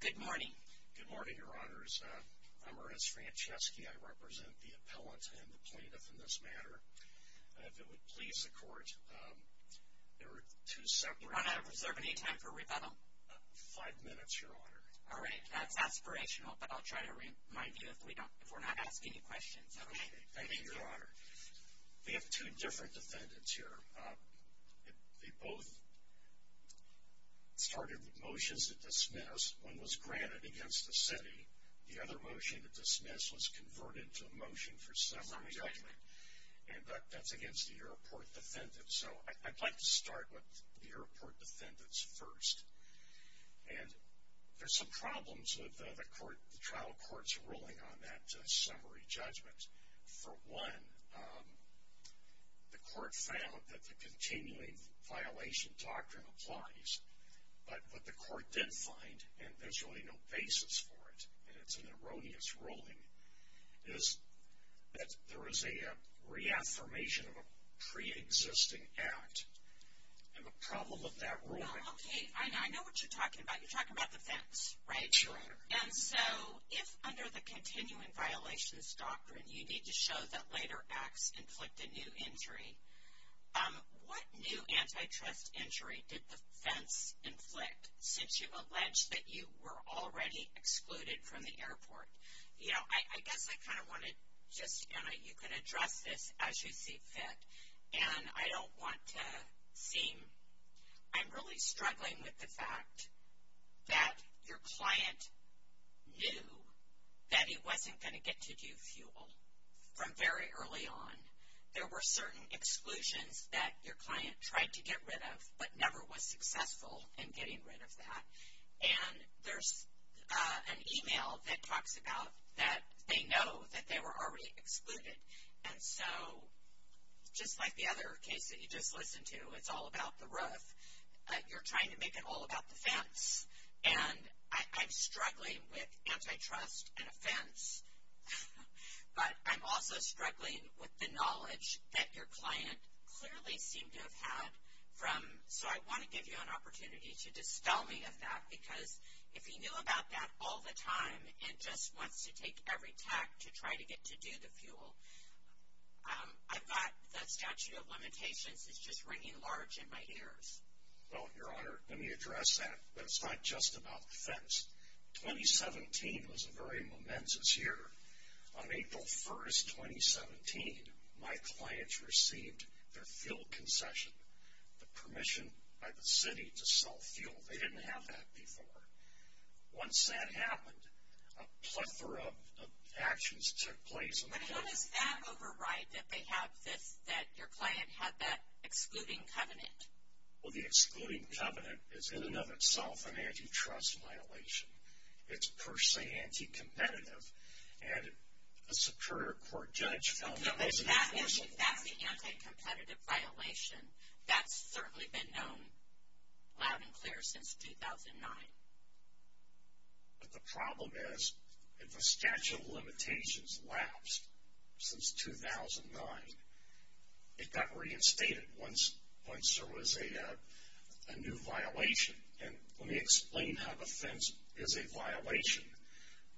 Good morning, Your Honors. I'm Ernest Franceschi. I represent the appellant and the plaintiff in this matter. If it would please the Court, there are two separate... I'm not observing any time for rebuttal. Five minutes, Your Honor. All right. That's aspirational, but I'll try to remind you if we're not asking you questions. Okay. Thank you, Your Honor. We have two different defendants here. They both started with motions that dismissed. One was granted against the city. The other motion that dismissed was converted to a motion for summary judgment. And that's against the airport defendants. So I'd like to start with the airport defendants first. And there's some problems with the trial court's ruling on that summary judgment. For one, the court found that the continuing violation doctrine applies. But what the court did find, and there's really no basis for it, and it's an erroneous ruling, is that there is a reaffirmation of a preexisting act. And the problem with that ruling... Well, okay. I know what you're talking about. You're talking about the fence, right? Yes, Your Honor. And so if under the continuing violations doctrine you need to show that later acts inflict a new injury, what new antitrust injury did the fence inflict since you've alleged that you were already excluded from the airport? You know, I guess I kind of want to just... You know, you can address this as you see fit, and I don't want to seem... with the fact that your client knew that he wasn't going to get to do fuel from very early on. There were certain exclusions that your client tried to get rid of but never was successful in getting rid of that. And there's an email that talks about that they know that they were already excluded. And so just like the other case that you just listened to, it's all about the roof. You're trying to make it all about the fence. And I'm struggling with antitrust and offense. But I'm also struggling with the knowledge that your client clearly seemed to have had from... So I want to give you an opportunity to dispel me of that, because if he knew about that all the time and just wants to take every tact to try to get to do the fuel, I thought the statute of limitations is just ringing large in my ears. Well, your honor, let me address that. But it's not just about the fence. 2017 was a very momentous year. On April 1st, 2017, my clients received their fuel concession, the permission by the city to sell fuel. They didn't have that before. Once that happened, a plethora of actions took place. But how does that override that they have this, that your client had that excluding covenant? Well, the excluding covenant is in and of itself an antitrust violation. It's per se anti-competitive. And a superior court judge found that wasn't enforceable. That's the anti-competitive violation. That's certainly been known loud and clear since 2009. But the problem is that the statute of limitations lapsed since 2009. It got reinstated once there was a new violation. And let me explain how the fence is a violation.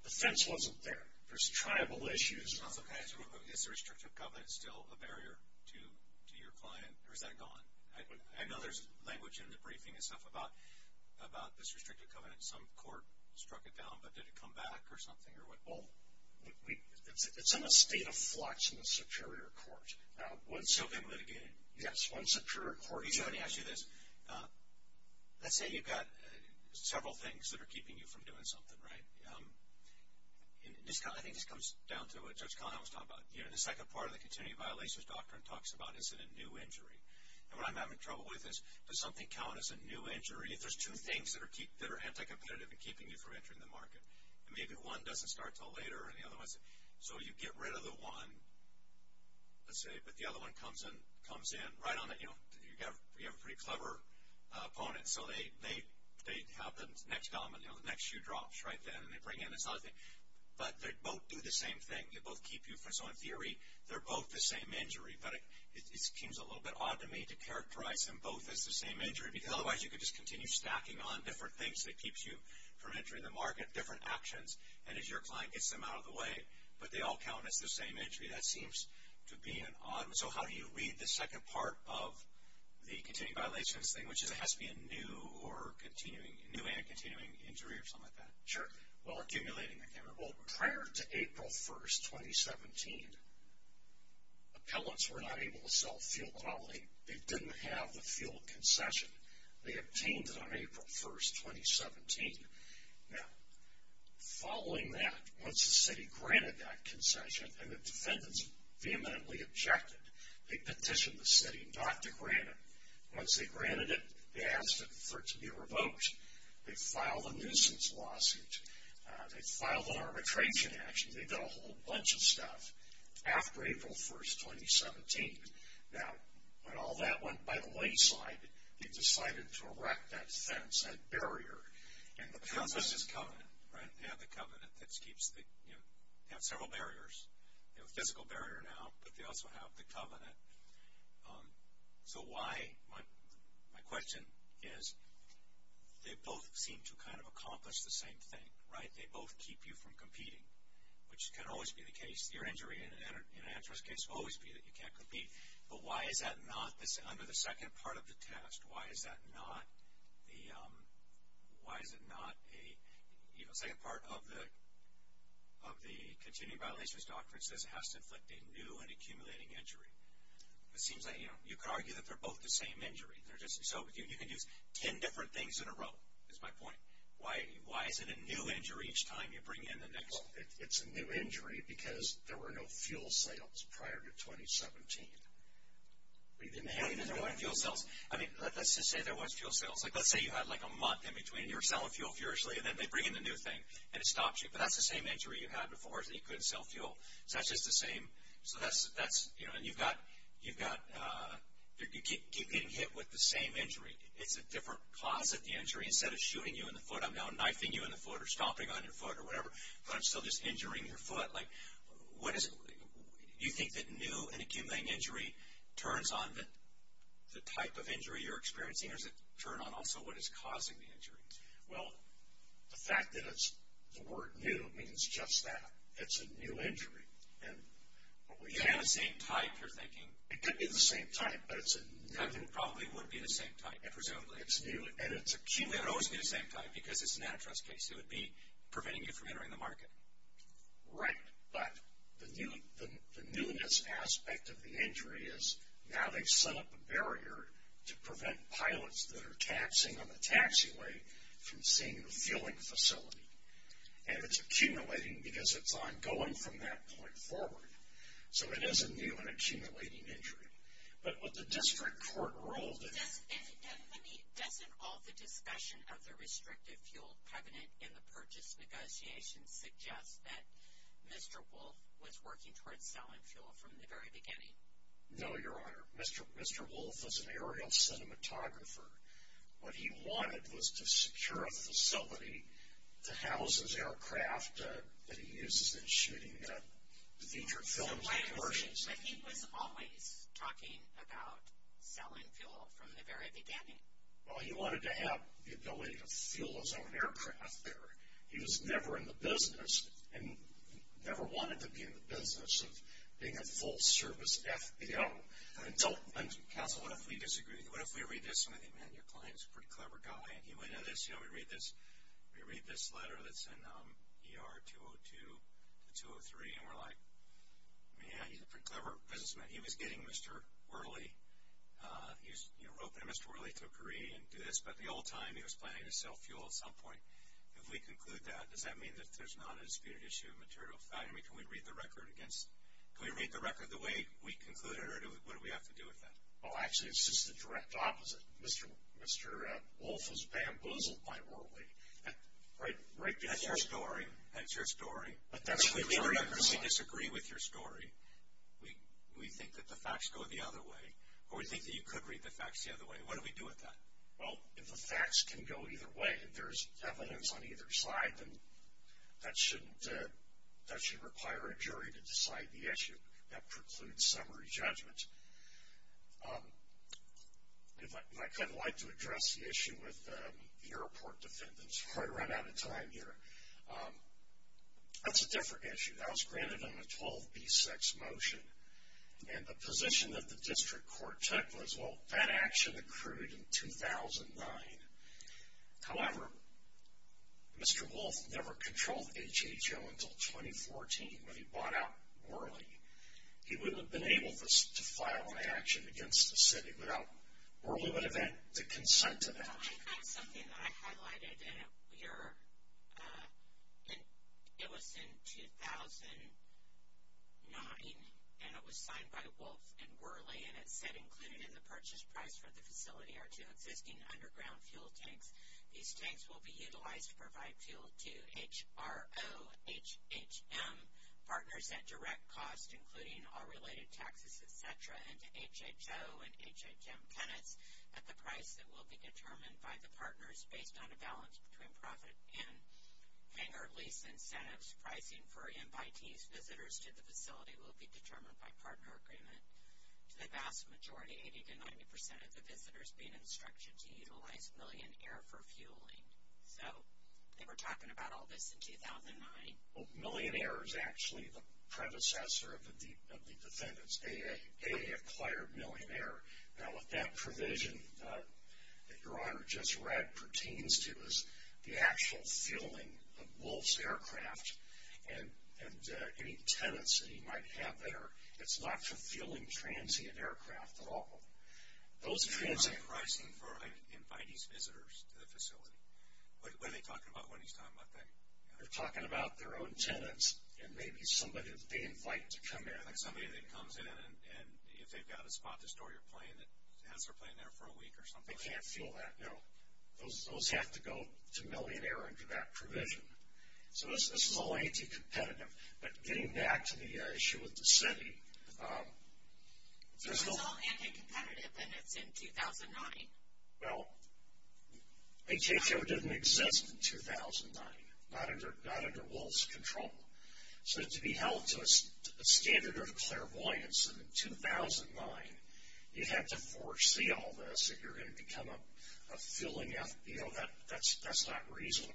The fence wasn't there. There's tribal issues. Is the restrictive covenant still a barrier to your client, or is that gone? I know there's language in the briefing and stuff about this restrictive covenant. Some court struck it down, but did it come back or something, or what? Well, it's in a state of flux in the superior court. Still being litigated? Yes, one superior court judge. Let me ask you this. Let's say you've got several things that are keeping you from doing something, right? I think this comes down to what Judge Connell was talking about. The second part of the continuity violations doctrine talks about, is it a new injury? And what I'm having trouble with is, does something count as a new injury? If there's two things that are anti-competitive in keeping you from entering the market, and maybe one doesn't start until later and the other one doesn't. So you get rid of the one, let's say, but the other one comes in right on it. You have a pretty clever opponent, so they have the next shoe drops right then, and they bring in this other thing, but they both do the same thing. They both keep you from, so in theory, they're both the same injury. But it seems a little bit odd to me to characterize them both as the same injury, because otherwise you could just continue stacking on different things that keeps you from entering the market, different actions, and as your client gets them out of the way, but they all count as the same injury. That seems to be an odd one. So how do you read the second part of the continuity violations thing, which is it has to be a new and continuing injury or something like that? Sure. Well, accumulating the camera. Well, prior to April 1, 2017, appellants were not able to sell fuel quality. They didn't have the fuel concession. They obtained it on April 1, 2017. Now, following that, once the city granted that concession and the defendants vehemently objected, they petitioned the city not to grant it. Once they granted it, they asked for it to be revoked. They filed a nuisance lawsuit. They filed an arbitration action. They did a whole bunch of stuff after April 1, 2017. Now, when all that went by the wayside, they decided to erect that fence, that barrier. Because this is covenant, right? They have the covenant that keeps the, you know, they have several barriers. They have a physical barrier now, but they also have the covenant. So why, my question is, they both seem to kind of accomplish the same thing, right? They both keep you from competing, which can always be the case. Your injury in an antitrust case will always be that you can't compete. But why is that not under the second part of the test? Why is that not the, why is it not a, you know, the continuing violations doctrine says it has to inflict a new and accumulating injury. It seems like, you know, you could argue that they're both the same injury. They're just, so you can use ten different things in a row, is my point. Why is it a new injury each time you bring in the next? Well, it's a new injury because there were no fuel sales prior to 2017. We didn't have any fuel sales. I mean, let's just say there was fuel sales. Like, let's say you had like a month in between. You were selling fuel furiously, and then they bring in the new thing, and it stops you. But that's the same injury you had before, is that you couldn't sell fuel. So that's just the same, so that's, you know, and you've got, you've got, you keep getting hit with the same injury. It's a different cause of the injury. Instead of shooting you in the foot, I'm now knifing you in the foot or stomping on your foot or whatever, but I'm still just injuring your foot. Like, what is, you think that new and accumulating injury turns on the type of injury you're experiencing, or does it turn on also what is causing the injury? Well, the fact that it's the word new means just that. It's a new injury, and what we have. It's not the same type, you're thinking. It could be the same type, but it's a new injury. It probably would be the same type, presumably. It's new, and it's accumulating. It would always be the same type because it's an antitrust case. It would be preventing you from entering the market. Right, but the newness aspect of the injury is now they've set up a barrier to prevent pilots that are taxiing on the taxiway from seeing the fueling facility, and it's accumulating because it's ongoing from that point forward. So, it is a new and accumulating injury. But what the district court ruled is. And, let me, doesn't all the discussion of the restrictive fuel covenant in the purchase negotiations suggest that Mr. Wolf was working towards selling fuel from the very beginning? No, Your Honor. Mr. Wolf was an aerial cinematographer. What he wanted was to secure a facility to house his aircraft that he uses in shooting featured films and commercials. But he was always talking about selling fuel from the very beginning. Well, he wanted to have the ability to fuel his own aircraft there. He was never in the business, and never wanted to be in the business of being a full-service FBO. Counsel, what if we disagree? What if we read this, and I think, man, your client's a pretty clever guy. And he went into this, you know, we read this letter that's in ER 202 to 203, and we're like, man, he's a pretty clever businessman. He was getting Mr. Worley. He wrote that Mr. Worley took a reading into this. But at the old time, he was planning to sell fuel at some point. If we conclude that, does that mean that there's not a disputed issue of material value? I mean, can we read the record the way we concluded, or what do we have to do with that? Well, actually, it's just the direct opposite. Mr. Wolfe was bamboozled by Worley right before. That's your story. That's your story. But that's what we've heard. So even if we disagree with your story, we think that the facts go the other way, or we think that you could read the facts the other way. What do we do with that? Well, if the facts can go either way, if there's evidence on either side, then that should require a jury to decide the issue. That precludes summary judgment. If I could, I'd like to address the issue with the airport defendants. We've probably run out of time here. That's a different issue. That was granted on a 12B6 motion. And the position that the district court took was, well, that action accrued in 2009. However, Mr. Wolfe never controlled HHO until 2014 when he bought out Worley. He wouldn't have been able to file an action against the city without Worley would have had to consent to that. I think something that I highlighted, and it was in 2009, and it was signed by Wolfe and Worley, and it said included in the purchase price for the facility are two existing underground fuel tanks. These tanks will be utilized to provide fuel to HRO, HHM, partners at direct cost, including all related taxes, et cetera, and to HHO and HHM tenants at the price that will be determined by the partners based on a balance between profit and hanger lease incentives pricing for invitees. Visitors to the facility will be determined by partner agreement. To the vast majority, 80% to 90% of the visitors being instructed to utilize Million Air for fueling. So they were talking about all this in 2009. Million Air is actually the predecessor of the defendants. AA acquired Million Air. Now, what that provision that Your Honor just read pertains to is the actual fueling of Wolfe's aircraft and any tenants that he might have there. It's not for fueling transient aircraft at all. Those transient... They're not pricing for invitees visitors to the facility. What are they talking about when he's talking about that? They're talking about their own tenants and maybe somebody that they invite to come in. Somebody that comes in and if they've got a spot to store your plane, has their plane there for a week or something. They can't fuel that, no. Those have to go to Million Air under that provision. So this is all anti-competitive. But getting back to the issue with the city, there's no... So it's all anti-competitive and it's in 2009. Well, ATF didn't exist in 2009, not under Wolfe's control. So to be held to a standard of clairvoyance in 2009, you'd have to foresee all this if you're going to become a fueling FBO. That's not reasonable.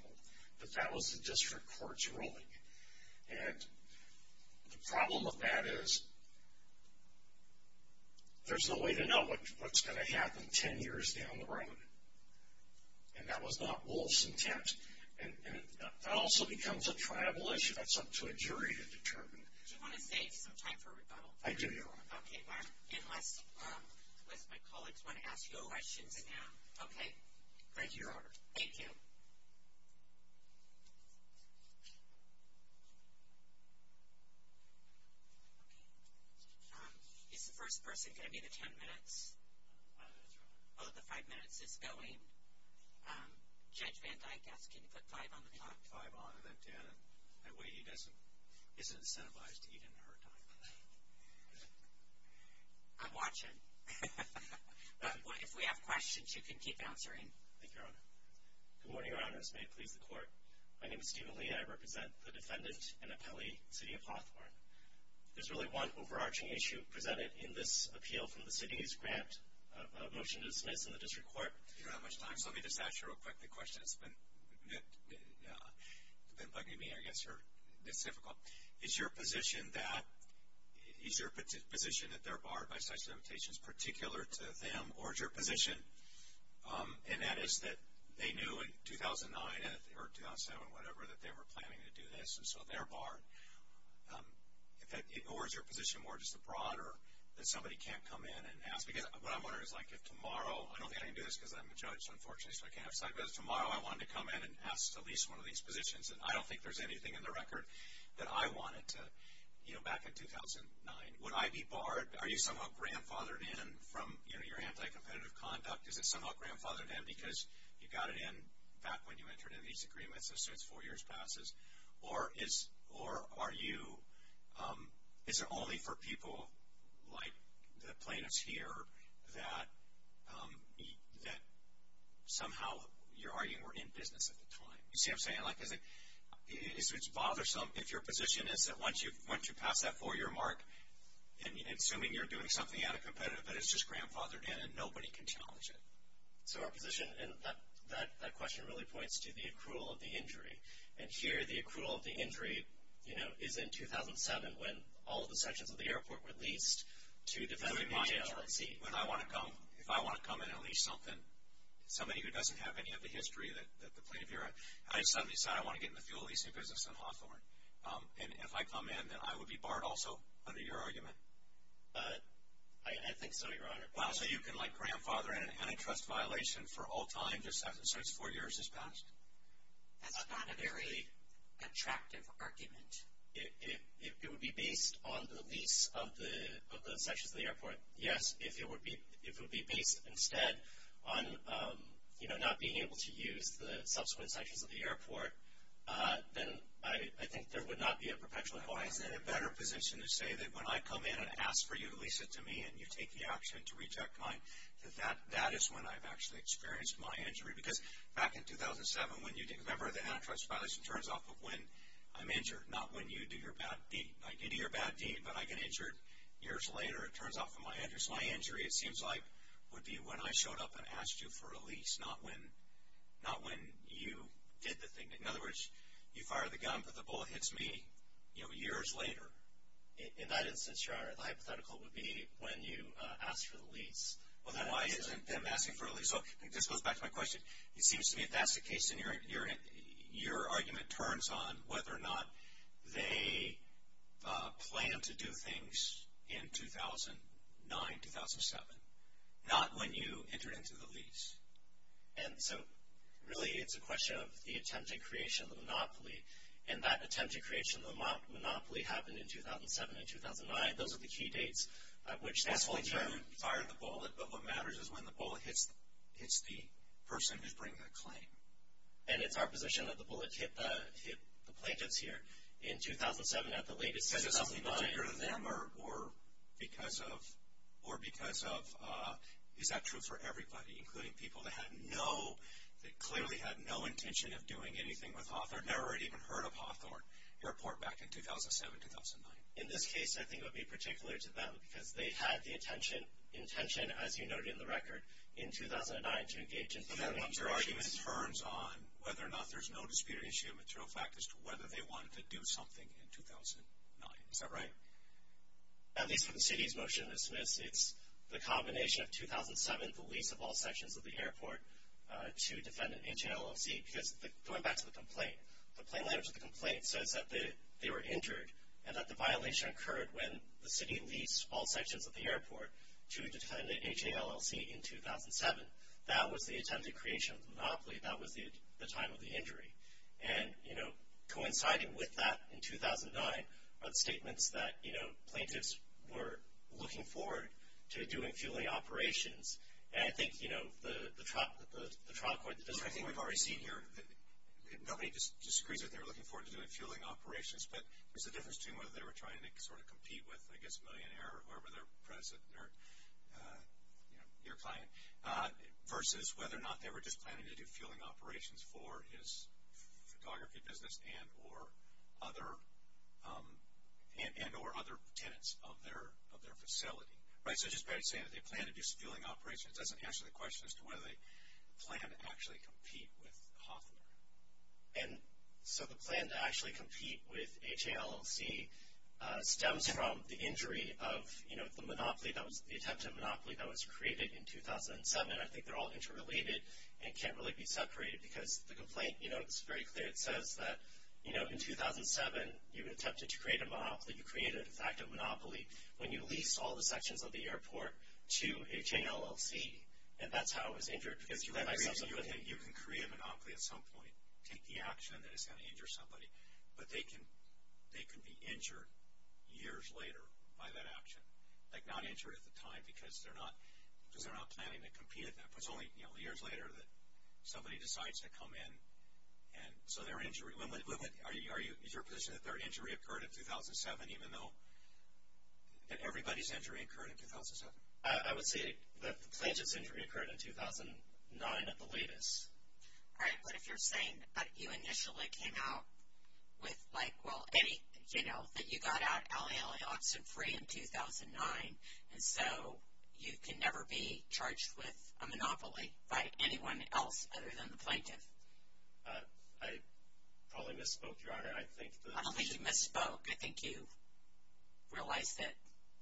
But that was the district court's ruling. And the problem with that is there's no way to know what's going to happen 10 years down the road. And that was not Wolfe's intent. And that also becomes a tribal issue. That's up to a jury to determine. Do you want to save some time for rebuttal? I do, Your Honor. Okay. Unless my colleagues want to ask you questions now. Okay. Thank you, Your Honor. Thank you. Okay. Is the first person going to be the 10 minutes? That's right. Oh, the five minutes is going. Judge Van Dyck, I ask you to put five on the clock. Five on and then 10. That way he doesn't incentivize to eat in her time. I'm watching. But if we have questions, you can keep answering. Thank you, Your Honor. Good morning, Your Honors. May it please the Court. My name is Stephen Lee. I represent the defendant in Appellee City of Hawthorne. There's really one overarching issue presented in this appeal from the city's grant, a motion to dismiss in the district court. I don't have much time, so let me just ask you a real quick question. It's been bugging me, I guess, or it's difficult. Is your position that they're barred by such limitations particular to them, or is your position, and that is that they knew in 2009 or 2007, whatever, that they were planning to do this, and so they're barred? Or is your position more just a broader that somebody can't come in and ask? Because what I'm wondering is, like, if tomorrow, I don't think I can do this because I'm a judge, unfortunately, so I can't have side business, but if tomorrow I wanted to come in and ask at least one of these positions, and I don't think there's anything in the record that I wanted to, you know, back in 2009, would I be barred? Are you somehow grandfathered in from, you know, your anti-competitive conduct? Is it somehow grandfathered in because you got it in back when you entered in these agreements, so it's four years passes? Or is it only for people like the plaintiffs here that somehow you're arguing we're in business at the time? You see what I'm saying? Like, is it bothersome if your position is that once you pass that four-year mark, and assuming you're doing something anti-competitive, that it's just grandfathered in and nobody can challenge it? So our position, and that question really points to the accrual of the injury, and here the accrual of the injury, you know, is in 2007 when all of the sections of the airport were leased to defend the HLAC. If I want to come in and lease something, somebody who doesn't have any of the history that the plaintiff here had, I suddenly decide I want to get in the fuel leasing business in Hawthorne, and if I come in, then I would be barred also under your argument? I think so, Your Honor. So you can, like, grandfather an antitrust violation for all time just as it's four years has passed? That's not a very attractive argument. It would be based on the lease of the sections of the airport. Yes, if it would be based instead on, you know, not being able to use the subsequent sections of the airport, then I think there would not be a perpetual harm. Well, I was in a better position to say that when I come in and ask for you to lease it to me and you take the action to reject mine, that that is when I've actually experienced my injury, because back in 2007 when you did, remember, the antitrust violation turns off of when I'm injured, not when you do your bad deed. Like, you do your bad deed, but I get injured years later, it turns off of my injury. So my injury, it seems like, would be when I showed up and asked you for a lease, not when you did the thing. In other words, you fire the gun, but the bullet hits me, you know, years later. In that instance, the hypothetical would be when you asked for the lease. Well, then why isn't them asking for a lease? So this goes back to my question. It seems to me if that's the case, then your argument turns on whether or not they planned to do things in 2009, 2007, not when you entered into the lease. And so really it's a question of the attempt at creation of the monopoly, and that attempt at creation of the monopoly happened in 2007 and 2009. Those are the key dates at which that whole thing happened. That's when you fired the bullet, but what matters is when the bullet hits the person who's bringing the claim. And it's our position that the bullet hit the plaintiffs here in 2007 at the latest. Is it something particular to them or because of – is that true for everybody, including people that had no – that clearly had no intention of doing anything with Hawthorne, never had even heard of Hawthorne Airport back in 2007, 2009? In this case, I think it would be particular to them because they had the intention, as you noted in the record, in 2009 to engage in some negotiations. So then your argument turns on whether or not there's no dispute or issue of material fact as to whether they wanted to do something in 2009. Is that right? At least for the city's motion to dismiss, it's the combination of 2007, the lease of all sections of the airport to defendant H.A.L.L.C. Because going back to the complaint, the plain language of the complaint says that they were injured and that the violation occurred when the city leased all sections of the airport to defendant H.A.L.L.C. in 2007. That was the attempted creation of the monopoly. That was the time of the injury. And, you know, coinciding with that in 2009 are the statements that, you know, plaintiffs were looking forward to doing fueling operations. And I think, you know, the trial court that does that. I think we've already seen here that nobody disagrees that they were looking forward to doing fueling operations, but there's a difference between whether they were trying to sort of compete with, I guess, whoever their president or, you know, your client, versus whether or not they were just planning to do fueling operations for his photography business and or other tenants of their facility. Right? So just by saying that they planned to do some fueling operations doesn't answer the question as to whether they plan to actually compete with Hoffner. And so the plan to actually compete with H.A.L.L.C. stems from the injury of, you know, the monopoly. That was the attempted monopoly that was created in 2007. I think they're all interrelated and can't really be separated because the complaint, you know, it's very clear. It says that, you know, in 2007 you attempted to create a monopoly. You created, in fact, a monopoly when you leased all the sections of the airport to H.A.L.L.C. And that's how it was injured. You can create a monopoly at some point, take the action that it's going to injure somebody, but they can be injured years later by that action. Like not injured at the time because they're not planning to compete at that point. It's only, you know, years later that somebody decides to come in and so their injury. Is your position that their injury occurred in 2007 even though that everybody's injury occurred in 2007? I would say that the plaintiff's injury occurred in 2009 at the latest. All right. But if you're saying that you initially came out with, like, well, any, you know, that you got out H.A.L.L.A. oxen free in 2009, and so you can never be charged with a monopoly by anyone else other than the plaintiff. I probably misspoke, Your Honor. I think that— I don't think you misspoke. I think you realize that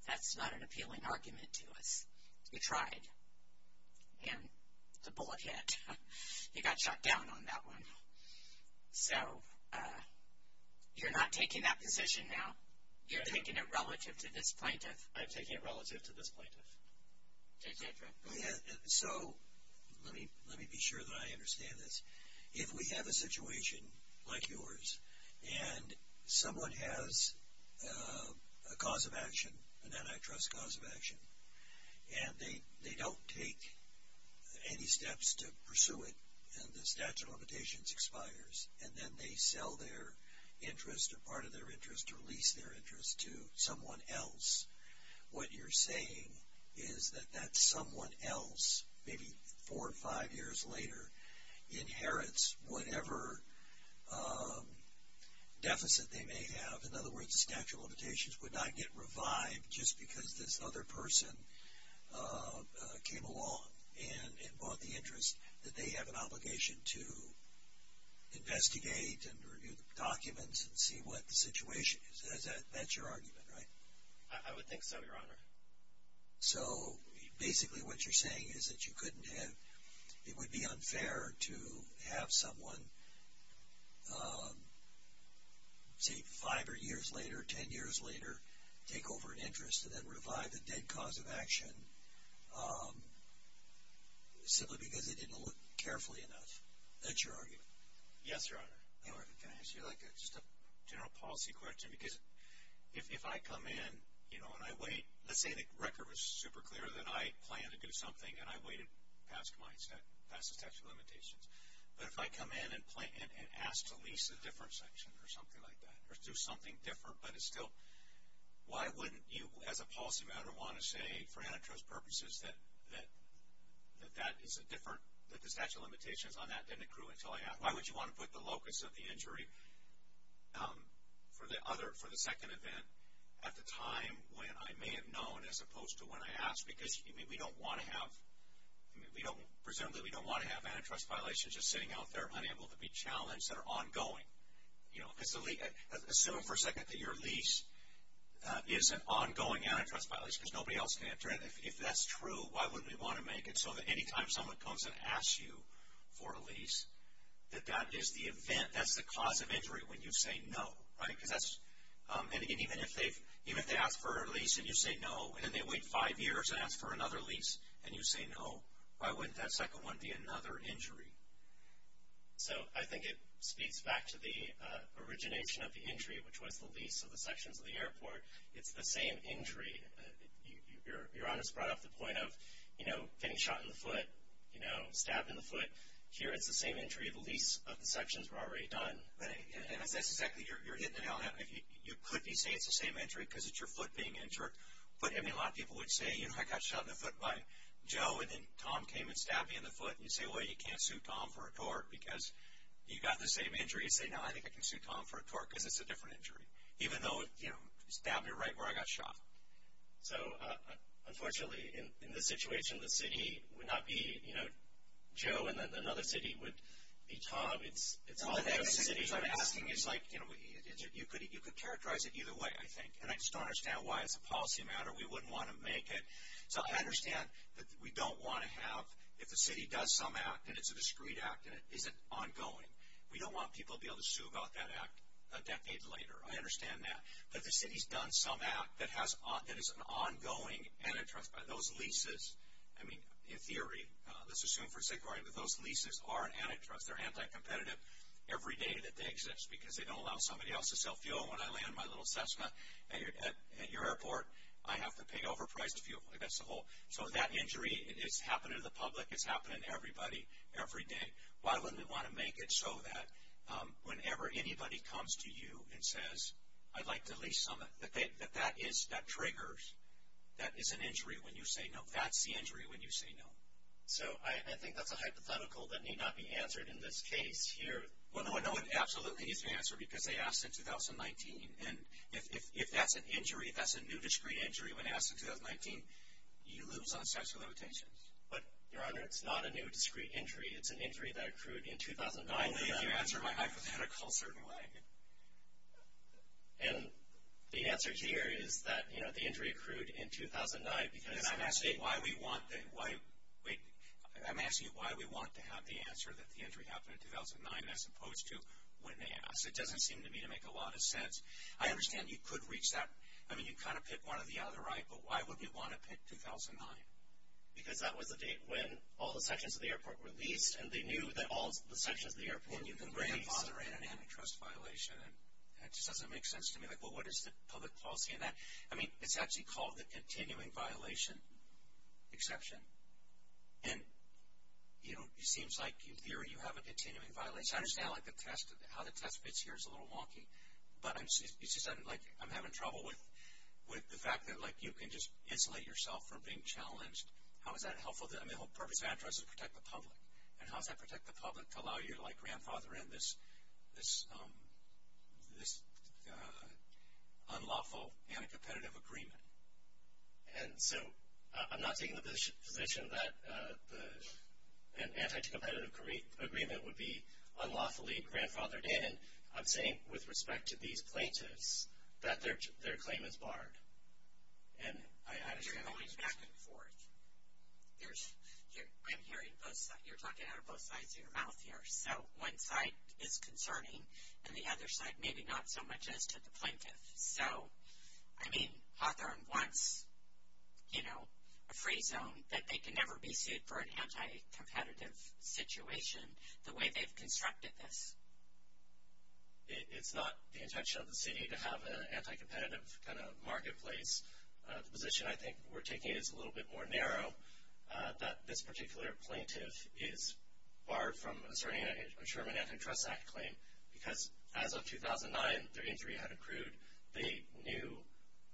that's not an appealing argument to us. You tried, and the bullet hit. You got shot down on that one. So you're not taking that position now. You're taking it relative to this plaintiff. I'm taking it relative to this plaintiff. J.J. So let me be sure that I understand this. If we have a situation like yours, and someone has a cause of action, an antitrust cause of action, and they don't take any steps to pursue it, and the statute of limitations expires, and then they sell their interest or part of their interest or lease their interest to someone else, what you're saying is that that someone else, maybe four or five years later, inherits whatever deficit they may have. In other words, the statute of limitations would not get revived just because this other person came along and bought the interest that they have an obligation to investigate and review the documents and see what the situation is. That's your argument, right? I would think so, Your Honor. So basically what you're saying is that it would be unfair to have someone, say, five or years later, ten years later, take over an interest and then revive a dead cause of action simply because they didn't look carefully enough. That's your argument. Yes, Your Honor. Can I ask you just a general policy question? Because if I come in, you know, and I wait, let's say the record was super clear that I planned to do something and I waited past the statute of limitations. But if I come in and ask to lease a different section or something like that or do something different but it's still, why wouldn't you as a policy matter want to say for antitrust purposes that that is a different, that the statute of limitations on that didn't accrue until I asked? Why would you want to put the locus of the injury for the second event at the time when I may have known as opposed to when I asked? Because we don't want to have, presumably we don't want to have antitrust violations just sitting out there unable to be challenged that are ongoing. Assume for a second that your lease is an ongoing antitrust violation because nobody else can enter it. If that's true, why wouldn't we want to make it so that any time someone comes and asks you for a lease that that is the event, that's the cause of injury when you say no, right? Because that's, and even if they ask for a lease and you say no, and then they wait five years and ask for another lease and you say no, why wouldn't that second one be another injury? So I think it speaks back to the origination of the injury, which was the lease of the sections of the airport. It's the same injury. Your Honest brought up the point of, you know, getting shot in the foot, you know, stabbed in the foot. Here it's the same injury. The lease of the sections were already done. And that's exactly, you're hitting it on that. You could be saying it's the same injury because it's your foot being injured. But, I mean, a lot of people would say, you know, I got shot in the foot by Joe and then Tom came and stabbed me in the foot. And you say, well, you can't sue Tom for a tort because you got the same injury. You say, no, I think I can sue Tom for a tort because it's a different injury, even though, you know, he stabbed me right where I got shot. So, unfortunately, in this situation, the city would not be, you know, Joe, and then another city would be Tom. It's all those cities I'm asking. It's like, you know, you could characterize it either way, I think. And I just don't understand why as a policy matter we wouldn't want to make it. So I understand that we don't want to have, if the city does some act and it's a discreet act and it isn't ongoing, we don't want people to be able to sue about that act a decade later. I understand that. But the city's done some act that is an ongoing antitrust. Those leases, I mean, in theory, let's assume for a second, but those leases are an antitrust. They're anti-competitive every day that they exist because they don't allow somebody else to sell fuel. When I land my little Cessna at your airport, I have to pay overpriced fuel. That's the whole. So that injury is happening to the public. It's happening to everybody every day. Why wouldn't we want to make it so that whenever anybody comes to you and says, I'd like to lease Summit, that that triggers, that is an injury when you say no. That's the injury when you say no. So I think that's a hypothetical that need not be answered in this case here. Well, no, it absolutely needs to be answered because they asked in 2019. And if that's an injury, if that's a new discreet injury when asked in 2019, you lose on sexual limitations. But, Your Honor, it's not a new discreet injury. It's an injury that accrued in 2009. Only if you answer my hypothetical a certain way. And the answer here is that, you know, the injury accrued in 2009. I'm asking you why we want to have the answer that the injury happened in 2009 as opposed to when they asked. It doesn't seem to me to make a lot of sense. I understand you could reach that. I mean, you kind of pick one or the other, right? But why would we want to pick 2009? Because that was the date when all the sections of the airport were leased and they knew that all the sections of the airport were going to be leased. And you can bring a father in an antitrust violation. That just doesn't make sense to me. Like, well, what is the public policy in that? I mean, it's actually called the continuing violation exception. And, you know, it seems like in theory you have a continuing violation. I understand, like, how the test fits here is a little wonky. But it's just like I'm having trouble with the fact that, like, you can just insulate yourself from being challenged. How is that helpful? I mean, the whole purpose of antitrust is to protect the public. And how does that protect the public to allow you to, like, grandfather in this unlawful anti-competitive agreement? And so I'm not taking the position that an anti-competitive agreement would be unlawfully grandfathered in. I'm saying with respect to these plaintiffs that their claim is barred. And I understand that. You're going back and forth. I'm hearing both sides. You're talking out of both sides of your mouth here. So one side is concerning, and the other side maybe not so much as to the plaintiff. So, I mean, Hawthorne wants, you know, a free zone, that they can never be sued for an anti-competitive situation, the way they've constructed this. It's not the intention of the city to have an anti-competitive kind of marketplace. The position I think we're taking is a little bit more narrow, that this particular plaintiff is barred from asserting a Sherman Antitrust Act claim, because as of 2009, their injury had accrued. They knew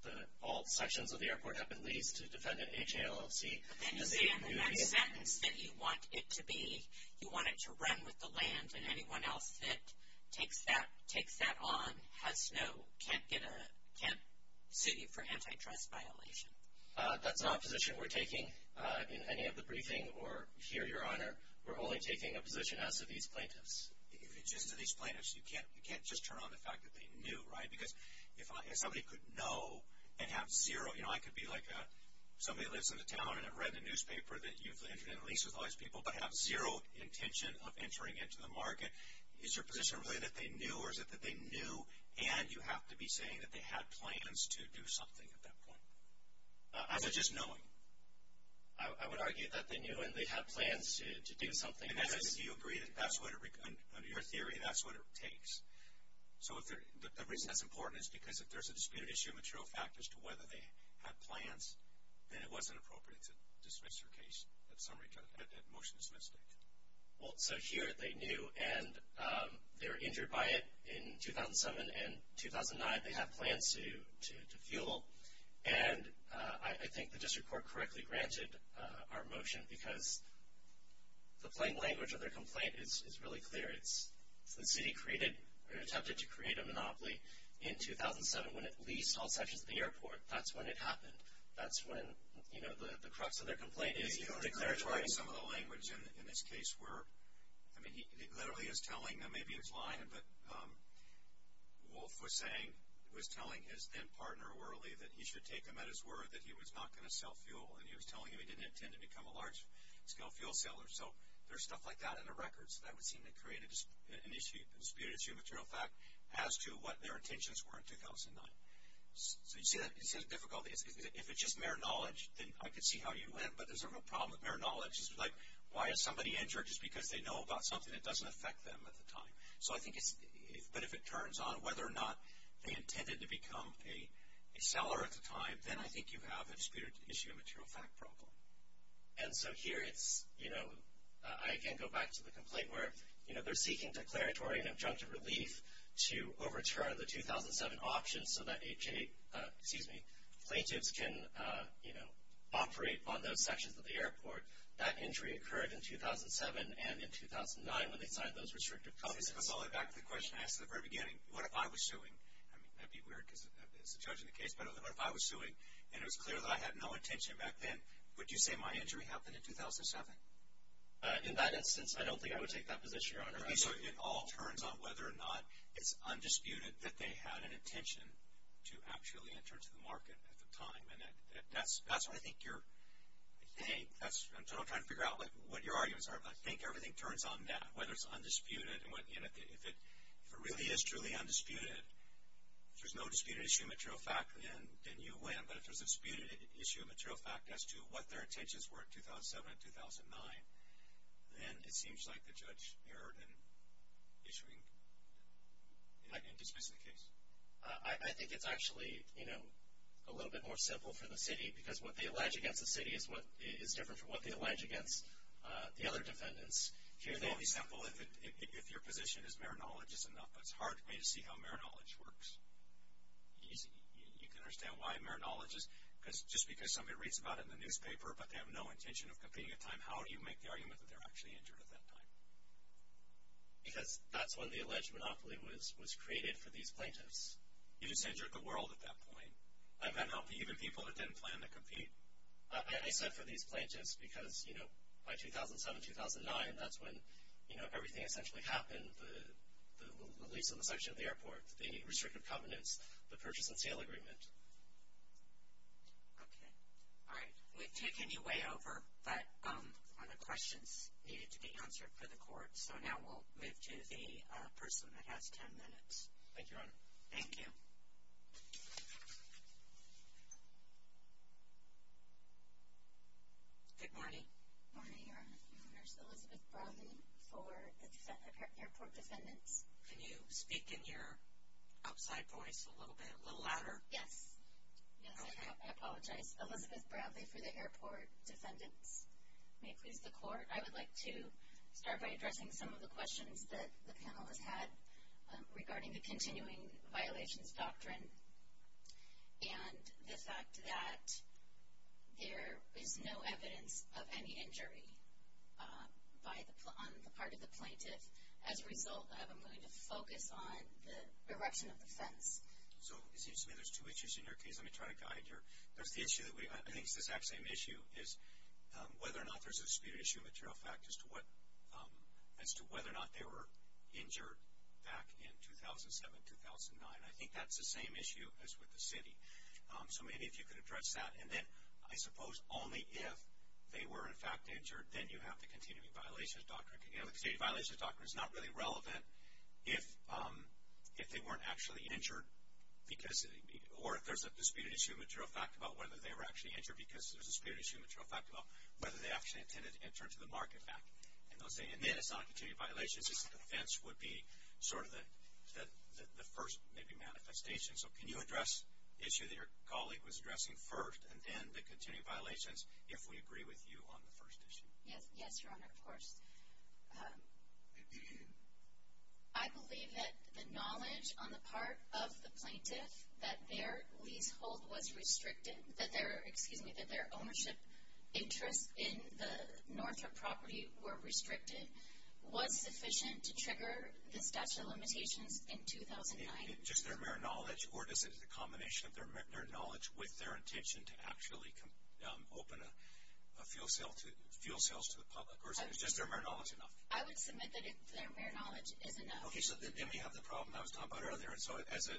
that all sections of the airport had been leased to defend an HALLC. And you say in that sentence that you want it to be, you want it to run with the land, and anyone else that takes that on has no, can't get a, can't sue you for antitrust violation. That's not a position we're taking in any of the briefing or here, Your Honor. We're only taking a position as to these plaintiffs. Just to these plaintiffs. You can't just turn on the fact that they knew, right? Because if somebody could know and have zero, you know, I could be like a, somebody lives in the town and have read the newspaper that you've entered into a lease with all these people, but have zero intention of entering into the market, is your position really that they knew or is it that they knew and you have to be saying that they had plans to do something at that point? Or is it just knowing? I would argue that they knew and they had plans to do something. In essence, do you agree that that's what, under your theory, that's what it takes? So the reason that's important is because if there's a disputed issue of material factors as to whether they had plans, then it wasn't appropriate to dismiss your case at motion to dismiss the case. Well, so here they knew and they were injured by it in 2007 and 2009. They had plans to fuel. And I think the district court correctly granted our motion because the plain language of their complaint is really clear. It's the city created or attempted to create a monopoly in 2007 when it leased all sections of the airport. That's when it happened. That's when the crux of their complaint is. Some of the language in this case were, I mean, he literally is telling them, maybe he's lying, but Wolf was saying, was telling his then partner Worley that he should take them at his word that he was not going to sell fuel. And he was telling him he didn't intend to become a large-scale fuel seller. So there's stuff like that in the records. That would seem to create a disputed issue of material fact as to what their intentions were in 2009. So you see the difficulty. If it's just mere knowledge, then I could see how you went, but there's a real problem with mere knowledge. It's like, why is somebody injured? Just because they know about something that doesn't affect them at the time. But if it turns on whether or not they intended to become a seller at the time, then I think you have a disputed issue of material fact problem. And so here it's, you know, I again go back to the complaint where, you know, they're seeking declaratory and adjunctive relief to overturn the 2007 option so that plaintiffs can, you know, operate on those sections of the airport. That injury occurred in 2007 and in 2009 when they signed those restrictive complaints. Back to the question I asked at the very beginning, what if I was suing? I mean, that would be weird because it's a judge in the case, but what if I was suing and it was clear that I had no intention back then, would you say my injury happened in 2007? In that instance, I don't think I would take that position, Your Honor. So it all turns on whether or not it's undisputed that they had an intention to actually enter into the market at the time. And that's what I think you're, I'm trying to figure out what your arguments are, but I think everything turns on that, whether it's undisputed. If it really is truly undisputed, if there's no disputed issue of material fact, then you win. But if there's a disputed issue of material fact as to what their intentions were in 2007 and 2009, then it seems like the judge erred in issuing, in dismissing the case. I think it's actually, you know, a little bit more simple for the city because what they allege against the city is different from what they allege against the other defendants. Here they'll be simple if your position is mere knowledge is enough, but it's hard for me to see how mere knowledge works. You can understand why mere knowledge is, because just because somebody reads about it in the newspaper but they have no intention of competing at the time, how do you make the argument that they're actually injured at that time? Because that's when the alleged monopoly was created for these plaintiffs. You just injured the world at that point. I've had people that didn't plan to compete. I said for these plaintiffs because, you know, by 2007, 2009, that's when, you know, everything essentially happened, the lease on the section of the airport, the restrictive covenants, the purchase and sale agreement. Okay. All right. We've taken you way over on the questions needed to be answered for the court, so now we'll move to the person that has ten minutes. Thank you, Your Honor. Thank you. Good morning. Good morning, Your Honor. My name is Elizabeth Bradley for the Airport Defendants. Can you speak in your outside voice a little bit, a little louder? Yes. Okay. Yes, I apologize. Elizabeth Bradley for the Airport Defendants. May it please the Court, I would like to start by addressing some of the questions that the panel has had regarding the continuing violations doctrine and the fact that there is no evidence of any injury on the part of the plaintiff as a result of, I'm going to focus on, the erection of the fence. So it seems to me there's two issues in your case. Let me try to guide your. There's the issue that we, I think it's the exact same issue, is whether or not there's a disputed issue of material fact as to whether or not they were injured back in 2007, 2009. I think that's the same issue as with the city. So maybe if you could address that. And then I suppose only if they were, in fact, injured, then you have the continuing violations doctrine. The continuing violations doctrine is not really relevant if they weren't actually injured or if there's a disputed issue of material fact about whether they were actually injured because there's a disputed issue of material fact about whether they actually intended to enter into the market back. And then it's not continuing violations. It's that the fence would be sort of the first maybe manifestation. So can you address the issue that your colleague was addressing first and then the continuing violations if we agree with you on the first issue? Yes, Your Honor, of course. I believe that the knowledge on the part of the plaintiff that their leasehold was restricted, that their ownership interests in the Northrop property were restricted, was sufficient to trigger the statute of limitations in 2009. Just their mere knowledge, or is it a combination of their mere knowledge with their intention to actually open a fuel sales to the public? Or is just their mere knowledge enough? I would submit that their mere knowledge is enough. Okay, so then we have the problem I was talking about earlier. So as a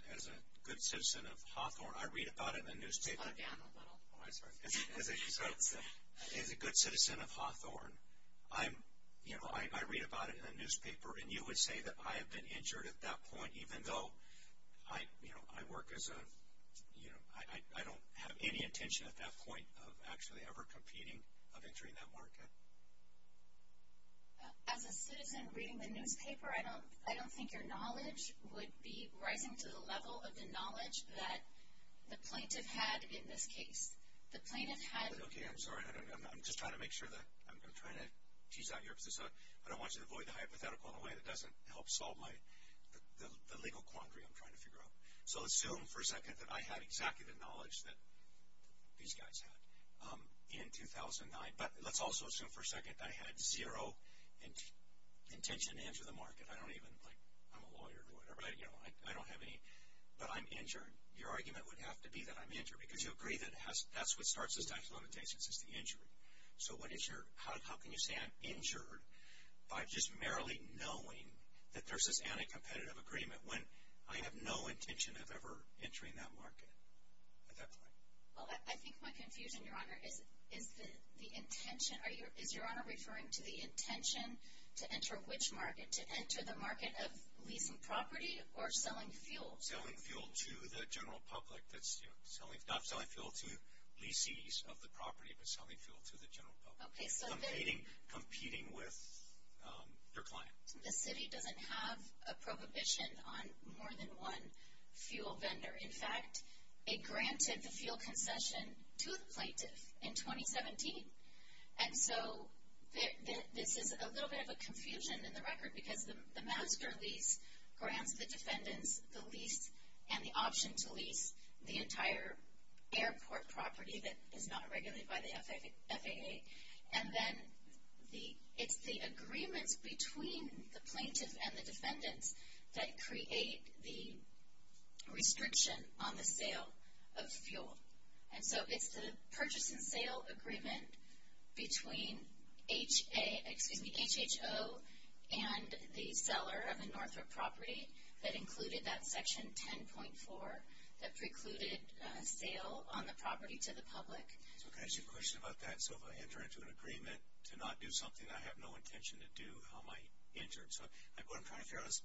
good citizen of Hawthorne, I read about it in the newspaper. Slow down a little. Oh, I'm sorry. As a good citizen of Hawthorne, you know, I read about it in the newspaper. And you would say that I have been injured at that point even though I work as a, you know, I don't have any intention at that point of actually ever competing a victory in that market. As a citizen reading the newspaper, I don't think your knowledge would be rising to the level of the knowledge that the plaintiff had in this case. The plaintiff had. Okay, I'm sorry. I'm just trying to make sure that I'm trying to tease out your position. I don't want you to avoid the hypothetical in a way that doesn't help solve the legal quandary I'm trying to figure out. So assume for a second that I had exactly the knowledge that these guys had in 2009. But let's also assume for a second that I had zero intention to enter the market. I don't even, like, I'm a lawyer or whatever. You know, I don't have any. But I'm injured. Your argument would have to be that I'm injured. Because you agree that that's what starts the statute of limitations is the injury. So how can you say I'm injured by just merely knowing that there's this anti-competitive agreement when I have no intention of ever entering that market at that point? Well, I think my confusion, Your Honor, is the intention. Is Your Honor referring to the intention to enter which market? To enter the market of leasing property or selling fuel? Selling fuel to the general public. Not selling fuel to leasees of the property, but selling fuel to the general public. Competing with your client. The city doesn't have a prohibition on more than one fuel vendor. In fact, it granted the fuel concession to the plaintiff in 2017. And so this is a little bit of a confusion in the record because the master lease grants the defendants the lease and the option to lease the entire airport property that is not regulated by the FAA. And then it's the agreements between the plaintiff and the defendants that create the restriction on the sale of fuel. And so it's the purchase and sale agreement between HHO and the seller of the Northrop property that included that section 10.4 that precluded sale on the property to the public. So can I ask you a question about that? So if I enter into an agreement to not do something that I have no intention to do, how am I injured? So what I'm trying to figure out is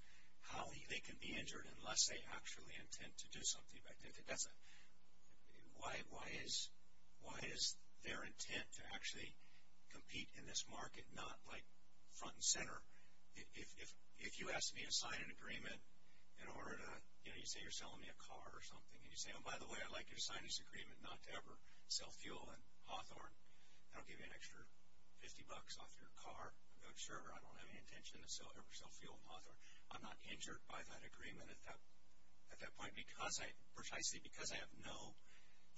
how they can be injured unless they actually intend to do something. Why is their intent to actually compete in this market not like front and center? If you ask me to sign an agreement in order to, you know, you say you're selling me a car or something, and you say, oh, by the way, I'd like you to sign this agreement not to ever sell fuel in Hawthorne, I don't give you an extra 50 bucks off your car, I'm not sure, or I don't have any intention to ever sell fuel in Hawthorne, I'm not injured by that agreement at that point because I, precisely because I have no,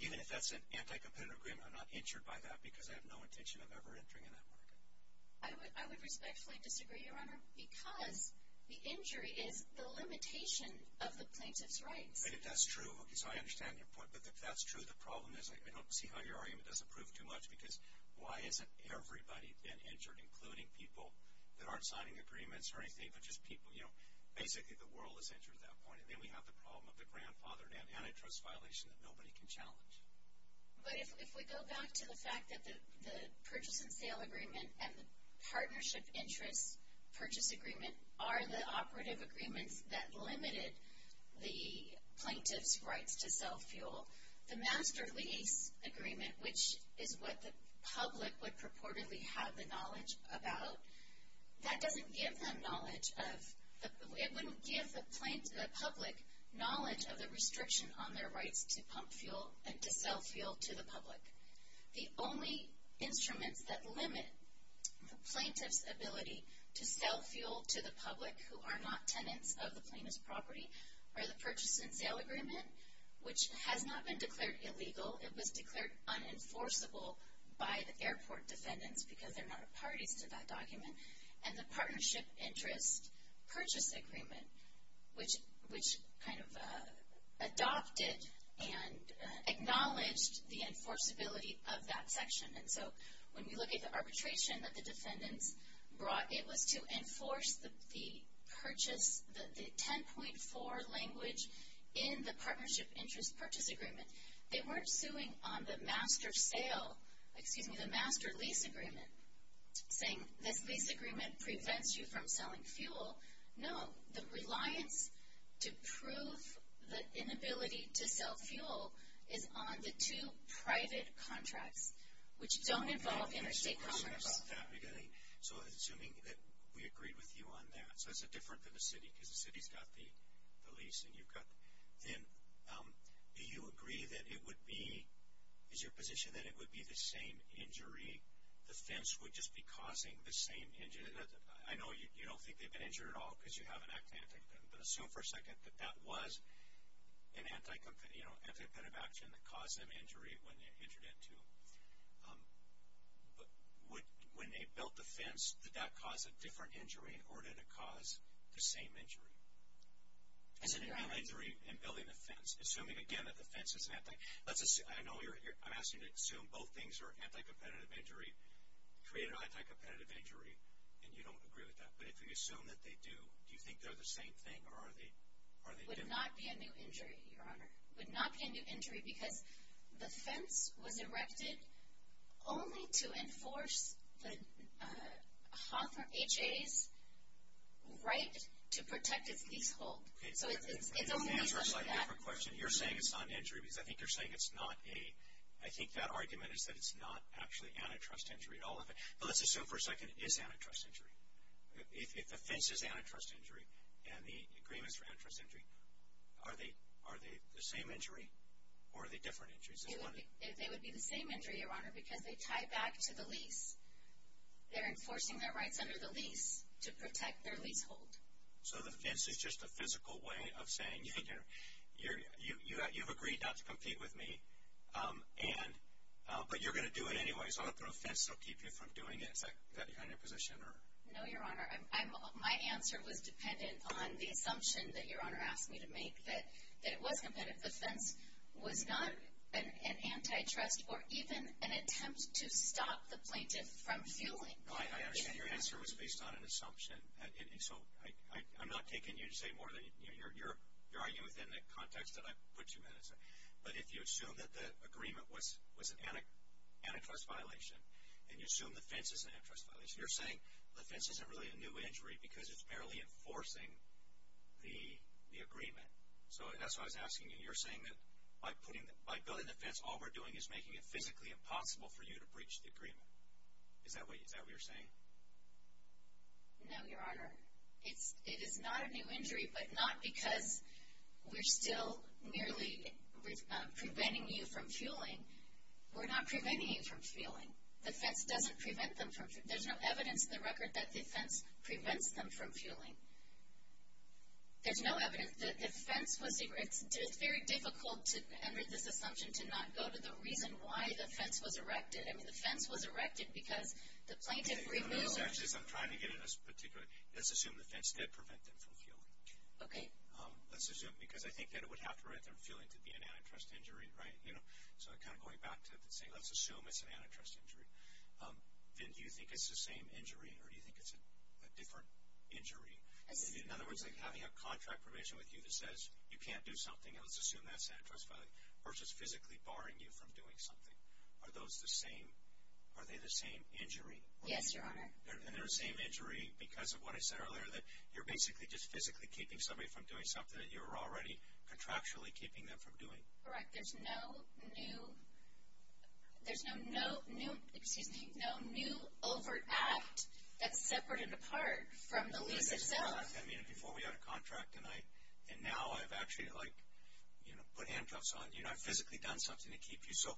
even if that's an anti-competitive agreement, I'm not injured by that because I have no intention of ever entering in that market. I would respectfully disagree, Your Honor, because the injury is the limitation of the plaintiff's rights. If that's true, okay, so I understand your point, but if that's true, the problem is, I don't see how your argument doesn't prove too much because why hasn't everybody been injured, including people that aren't signing agreements or anything, but just people, you know, basically the world is injured at that point, and then we have the problem of the grandfathered and antitrust violation that nobody can challenge. But if we go back to the fact that the purchase and sale agreement and the partnership interest purchase agreement are the operative agreements that limited the plaintiff's rights to sell fuel, the master lease agreement, which is what the public would purportedly have the knowledge about, that doesn't give them knowledge of, it wouldn't give the public knowledge of the restriction on their rights to pump fuel and to sell fuel to the public. The only instruments that limit the plaintiff's ability to sell fuel to the public who are not tenants of the plaintiff's property are the purchase and sale agreement, which has not been declared illegal. It was declared unenforceable by the airport defendants because they're not a parties to that document, and the partnership interest purchase agreement, which kind of adopted and acknowledged the enforceability of that section. And so when you look at the arbitration that the defendants brought, it was to enforce the purchase, the 10.4 language in the partnership interest purchase agreement. They weren't suing on the master sale, excuse me, the master lease agreement, saying this lease agreement prevents you from selling fuel. No, the reliance to prove the inability to sell fuel is on the two private contracts, which don't involve interstate commerce. So assuming that we agreed with you on that, so it's different than the city, because the city's got the lease and you've got them, do you agree that it would be, is your position that it would be the same injury, the fence would just be causing the same injury? I know you don't think they've been injured at all because you haven't acted anti-competitive, but assume for a second that that was an anti-competitive action that caused them injury when they entered into, but when they built the fence, did that cause a different injury or did it cause the same injury? Is it a new injury in building the fence? Assuming again that the fence is an anti-competitive, I know I'm asking you to assume both things are anti-competitive injury, create an anti-competitive injury, and you don't agree with that, but if you assume that they do, do you think they're the same thing or are they different? It would not be a new injury, Your Honor. It would not be a new injury because the fence was erected only to enforce the Hawthorne H.A.'s right to protect its leasehold. So it's only because of that. You're saying it's not an injury because I think you're saying it's not a, I think that argument is that it's not actually antitrust injury at all. But let's assume for a second it is antitrust injury. If the fence is antitrust injury and the agreement is for antitrust injury, are they the same injury or are they different injuries? They would be the same injury, Your Honor, because they tie back to the lease. They're enforcing their rights under the lease to protect their leasehold. So the fence is just a physical way of saying you've agreed not to compete with me, but you're going to do it anyway, so I'm going to put a fence to keep you from doing it. Is that your position? No, Your Honor. My answer was dependent on the assumption that Your Honor asked me to make, that it was competitive. The fence was not an antitrust or even an attempt to stop the plaintiff from fueling. I understand your answer was based on an assumption. So I'm not taking you to say more than you're arguing within the context that I put you in. But if you assume that the agreement was an antitrust violation and you assume the fence is an antitrust violation, you're saying the fence isn't really a new injury because it's merely enforcing the agreement. So that's why I was asking you. You're saying that by building the fence, all we're doing is making it physically impossible for you to breach the agreement. Is that what you're saying? No, Your Honor. It is not a new injury, but not because we're still merely preventing you from fueling. We're not preventing you from fueling. The fence doesn't prevent them from fueling. There's no evidence in the record that the fence prevents them from fueling. There's no evidence. The fence was a very difficult, under this assumption, to not go to the reason why the fence was erected. The fence was erected because the plaintiff removed it. I'm trying to get into this particularly. Let's assume the fence did prevent them from fueling. Okay. Let's assume. Because I think that it would have to prevent them from fueling to be an antitrust injury, right? So I'm kind of going back to saying let's assume it's an antitrust injury. Then do you think it's the same injury or do you think it's a different injury? In other words, like having a contract provision with you that says you can't do something, let's assume that's an antitrust violation, versus physically barring you from doing something. Are those the same? Are they the same injury? Yes, Your Honor. They're the same injury because of what I said earlier, that you're basically just physically keeping somebody from doing something that you're already contractually keeping them from doing. Correct. There's no new overt act that's separated apart from the lease itself. I mean, before we had a contract, and now I've actually put handcuffs on. I've physically done something to keep you. So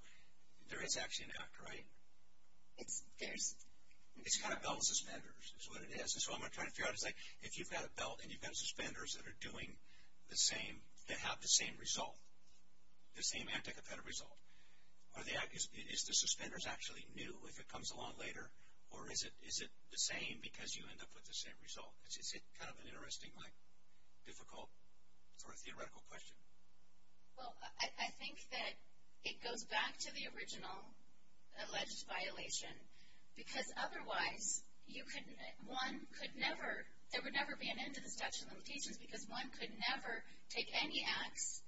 there is actually an act, right? It's kind of belt and suspenders is what it is. And so what I'm trying to figure out is like if you've got a belt and you've got suspenders that are doing the same, that have the same result, the same anticipated result, is the suspenders actually new if it comes along later? Or is it the same because you end up with the same result? Is it kind of an interesting, like difficult sort of theoretical question? Well, I think that it goes back to the original alleged violation because otherwise there would never be an end to the statute of limitations because one could never take any acts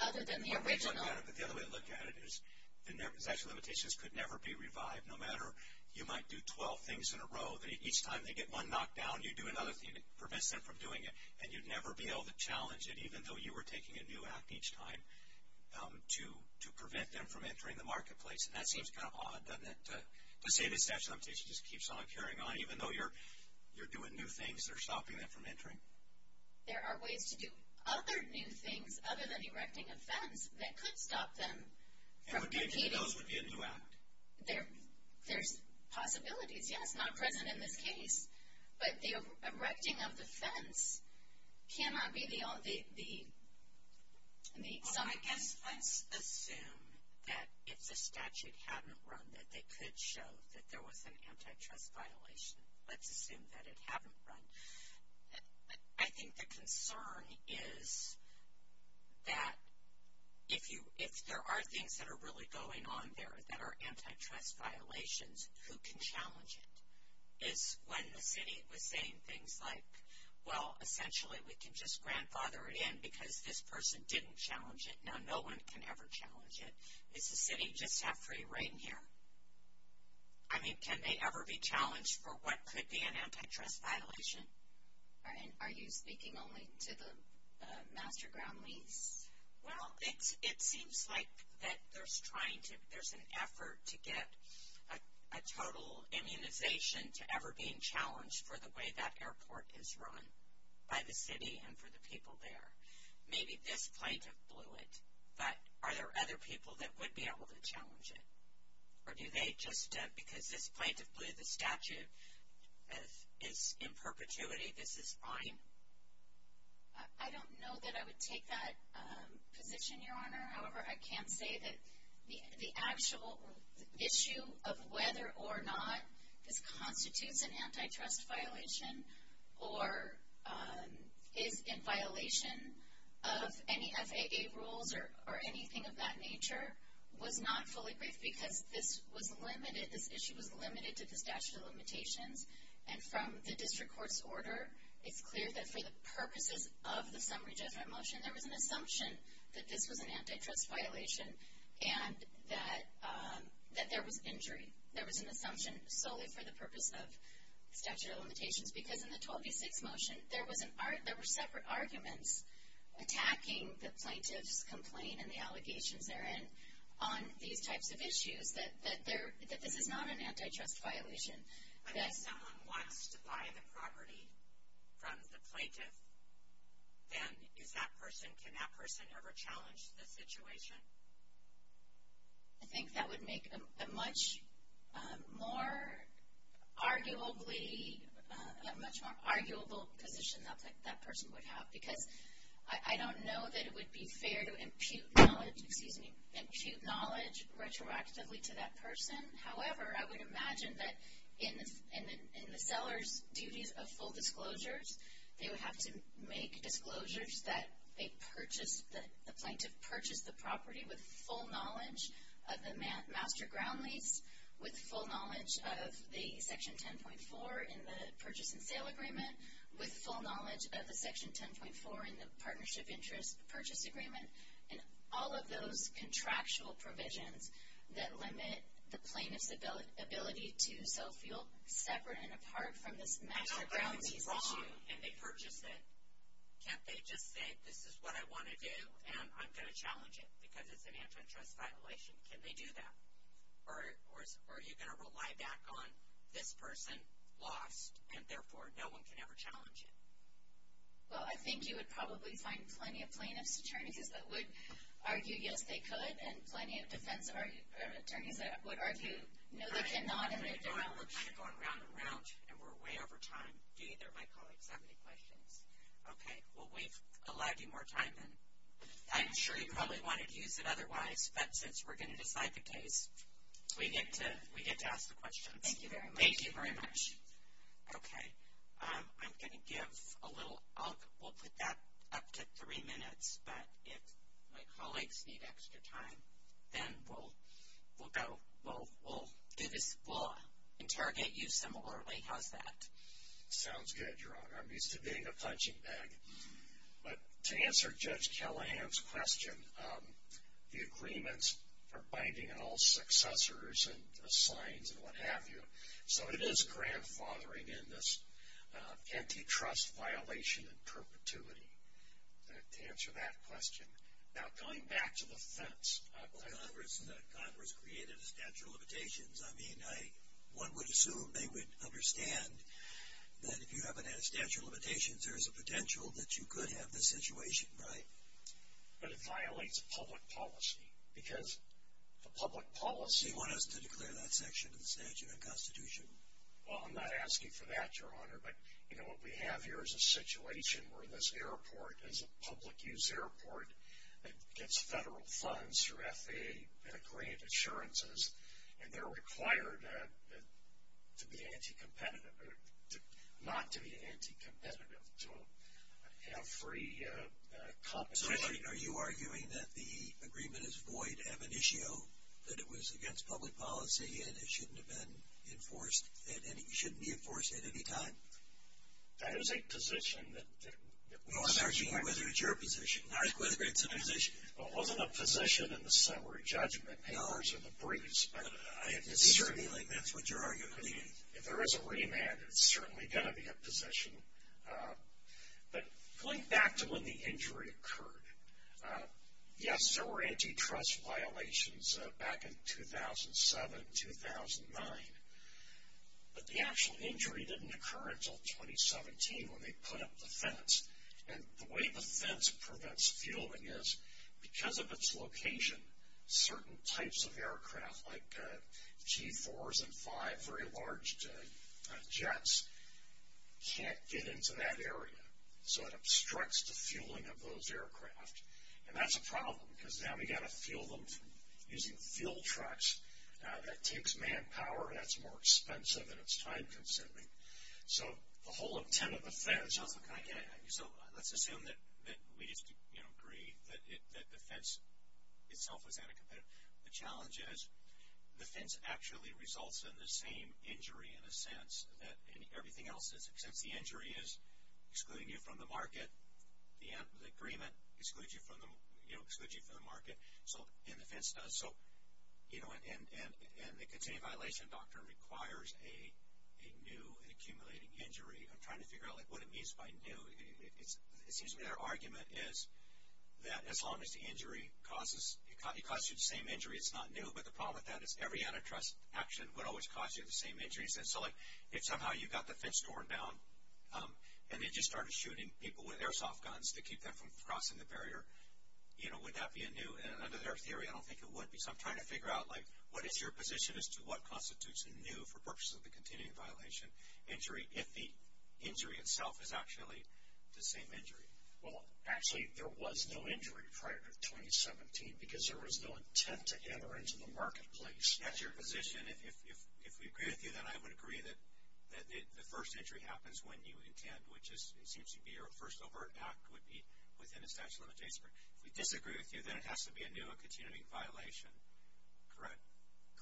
other than the original. But the other way to look at it is the statute of limitations could never be revived, no matter you might do 12 things in a row, that each time they get one knocked down, you do another thing that prevents them from doing it, and you'd never be able to challenge it even though you were taking a new act each time to prevent them from entering the marketplace. And that seems kind of odd, doesn't it, to say the statute of limitations just keeps on carrying on even though you're doing new things that are stopping them from entering. There are ways to do other new things other than erecting a fence that could stop them from competing. And would be a new act. There's possibilities, yes, not present in this case. But the erecting of the fence cannot be the only one. Well, I guess let's assume that if the statute hadn't run, that they could show that there was an antitrust violation. Let's assume that it hadn't run. I think the concern is that if there are things that are really going on there that are antitrust violations, who can challenge it? Is when the city was saying things like, well, essentially we can just grandfather it in because this person didn't challenge it, now no one can ever challenge it. Does the city just have free reign here? I mean, can they ever be challenged for what could be an antitrust violation? And are you speaking only to the master ground lease? Well, it seems like that there's trying to, there's an effort to get a total immunization to ever being challenged for the way that airport is run by the city and for the people there. Maybe this plaintiff blew it, but are there other people that would be able to challenge it? Or do they just, because this plaintiff blew the statute, is in perpetuity, this is fine? I don't know that I would take that position, Your Honor. However, I can say that the actual issue of whether or not this constitutes an antitrust violation or is in violation of any FAA rules or anything of that nature was not fully briefed because this was limited, this issue was limited to the statute of limitations. And from the district court's order, it's clear that for the purposes of the summary judgment motion, there was an assumption that this was an antitrust violation and that there was injury. There was an assumption solely for the purpose of statute of limitations because in the 1286 motion, there were separate arguments attacking the plaintiff's complaint and the allegations therein on these types of issues, that this is not an antitrust violation. Unless someone wants to buy the property from the plaintiff, then is that person, can that person ever challenge the situation? I think that would make a much more arguably, a much more arguable position that that person would have because I don't know that it would be fair to impute knowledge, excuse me, impute knowledge retroactively to that person. However, I would imagine that in the seller's duties of full disclosures, they would have to make disclosures that they purchased, that the plaintiff purchased the property with full knowledge of the master ground lease, with full knowledge of the section 10.4 in the purchase and sale agreement, with full knowledge of the section 10.4 in the partnership interest purchase agreement, and all of those contractual provisions that limit the plaintiff's ability to sell fuel, separate and apart from this master ground lease issue. I don't buy that it's wrong and they purchased it. Can't they just say, this is what I want to do and I'm going to challenge it because it's an antitrust violation? Can they do that? Or are you going to rely back on this person lost and therefore no one can ever challenge it? Well, I think you would probably find plenty of plaintiff's attorneys that would argue yes they could and plenty of defense attorneys that would argue no they cannot and they don't. We're kind of going round and round and we're way over time. Do either of my colleagues have any questions? Okay. Well, we've allowed you more time then. I'm sure you probably wanted to use it otherwise, but since we're going to decide the case, we get to ask the questions. Thank you very much. Thank you very much. Okay. I'm going to give a little up. We'll put that up to three minutes, but if my colleagues need extra time, then we'll go. We'll interrogate you similarly. How's that? Sounds good, Your Honor. I'm used to being a punching bag. But to answer Judge Callahan's question, the agreements are binding on all successors and signs and what have you. So it is grandfathering in this antitrust violation and perpetuity to answer that question. Now, going back to the fence. Well, Congress created a statute of limitations. I mean, one would assume they would understand that if you haven't had a statute of limitations, there is a potential that you could have this situation, right? But it violates a public policy because the public policy. Does he want us to declare that section of the statute a constitution? Well, I'm not asking for that, Your Honor. But, you know, what we have here is a situation where this airport is a public use airport that gets federal funds through FAA grant assurances, and they're required to be anti-competitive or not to be anti-competitive to have free compensation. So are you arguing that the agreement is void am initio, that it was against public policy and it shouldn't be enforced at any time? That is a position that... Well, I'm asking you whether it's your position, not whether it's a position. Well, it wasn't a position in the summary judgment. No. It was in the briefs. Certainly, that's what you're arguing. If there is a remand, it's certainly going to be a position. But going back to when the injury occurred. Yes, there were antitrust violations back in 2007, 2009. But the actual injury didn't occur until 2017 when they put up the fence. And the way the fence prevents fielding is because of its location, certain types of aircraft, like G-4s and 5, very large jets, can't get into that area. So it obstructs the fueling of those aircraft. And that's a problem because now we've got to fuel them using fuel trucks. That takes manpower, and that's more expensive, and it's time consuming. So the whole intent of the fence... The challenge is the fence actually results in the same injury in a sense that everything else... Since the injury is excluding you from the market, the agreement excludes you from the market. And the fence does... And the continuing violation doctrine requires a new and accumulating injury. I'm trying to figure out what it means by new. It seems to me their argument is that as long as the injury causes... It causes you the same injury, it's not new. But the problem with that is every antitrust action would always cause you the same injuries. And so, like, if somehow you got the fence torn down and they just started shooting people with airsoft guns to keep them from crossing the barrier, you know, would that be a new... And under their theory, I don't think it would be. So I'm trying to figure out, like, what is your position as to what constitutes a new, for purposes of the continuing violation, injury if the injury itself is actually the same injury? Well, actually, there was no injury prior to 2017 because there was no intent to enter into the marketplace. That's your position. If we agree with you, then I would agree that the first injury happens when you intend, which seems to be your first overt act would be within a statute of limitations. If we disagree with you, then it has to be a new and continuing violation. Correct?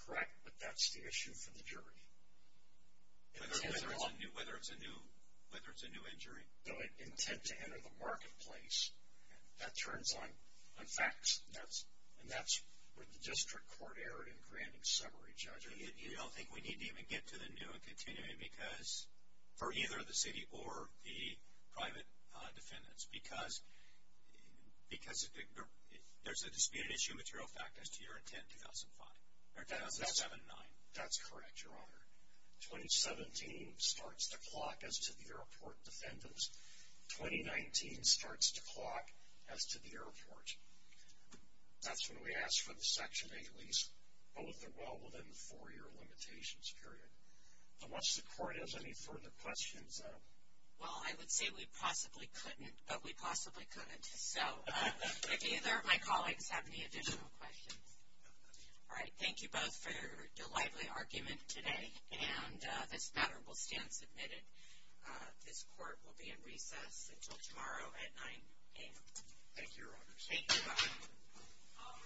Correct, but that's the issue for the jury. Whether it's a new injury. No, intent to enter the marketplace. That turns on facts, and that's where the district court erred in granting summary, Judge. You don't think we need to even get to the new and continuing because for either the city or the private defendants because there's a disputed issue material fact as to your intent, 2005, or 2007-9. That's correct, Your Honor. 2017 starts to clock as to the airport defendants. 2019 starts to clock as to the airport. That's when we ask for the Section 8 lease, both are well within the four-year limitations period. Unless the court has any further questions, then. Well, I would say we possibly couldn't, but we possibly could. So, if either of my colleagues have any additional questions. All right. Thank you both for your lively argument today, and this matter will stand submitted. This court will be in recess until tomorrow at 9 a.m. Thank you, Your Honor. Thank you. All rise. The case is submitted.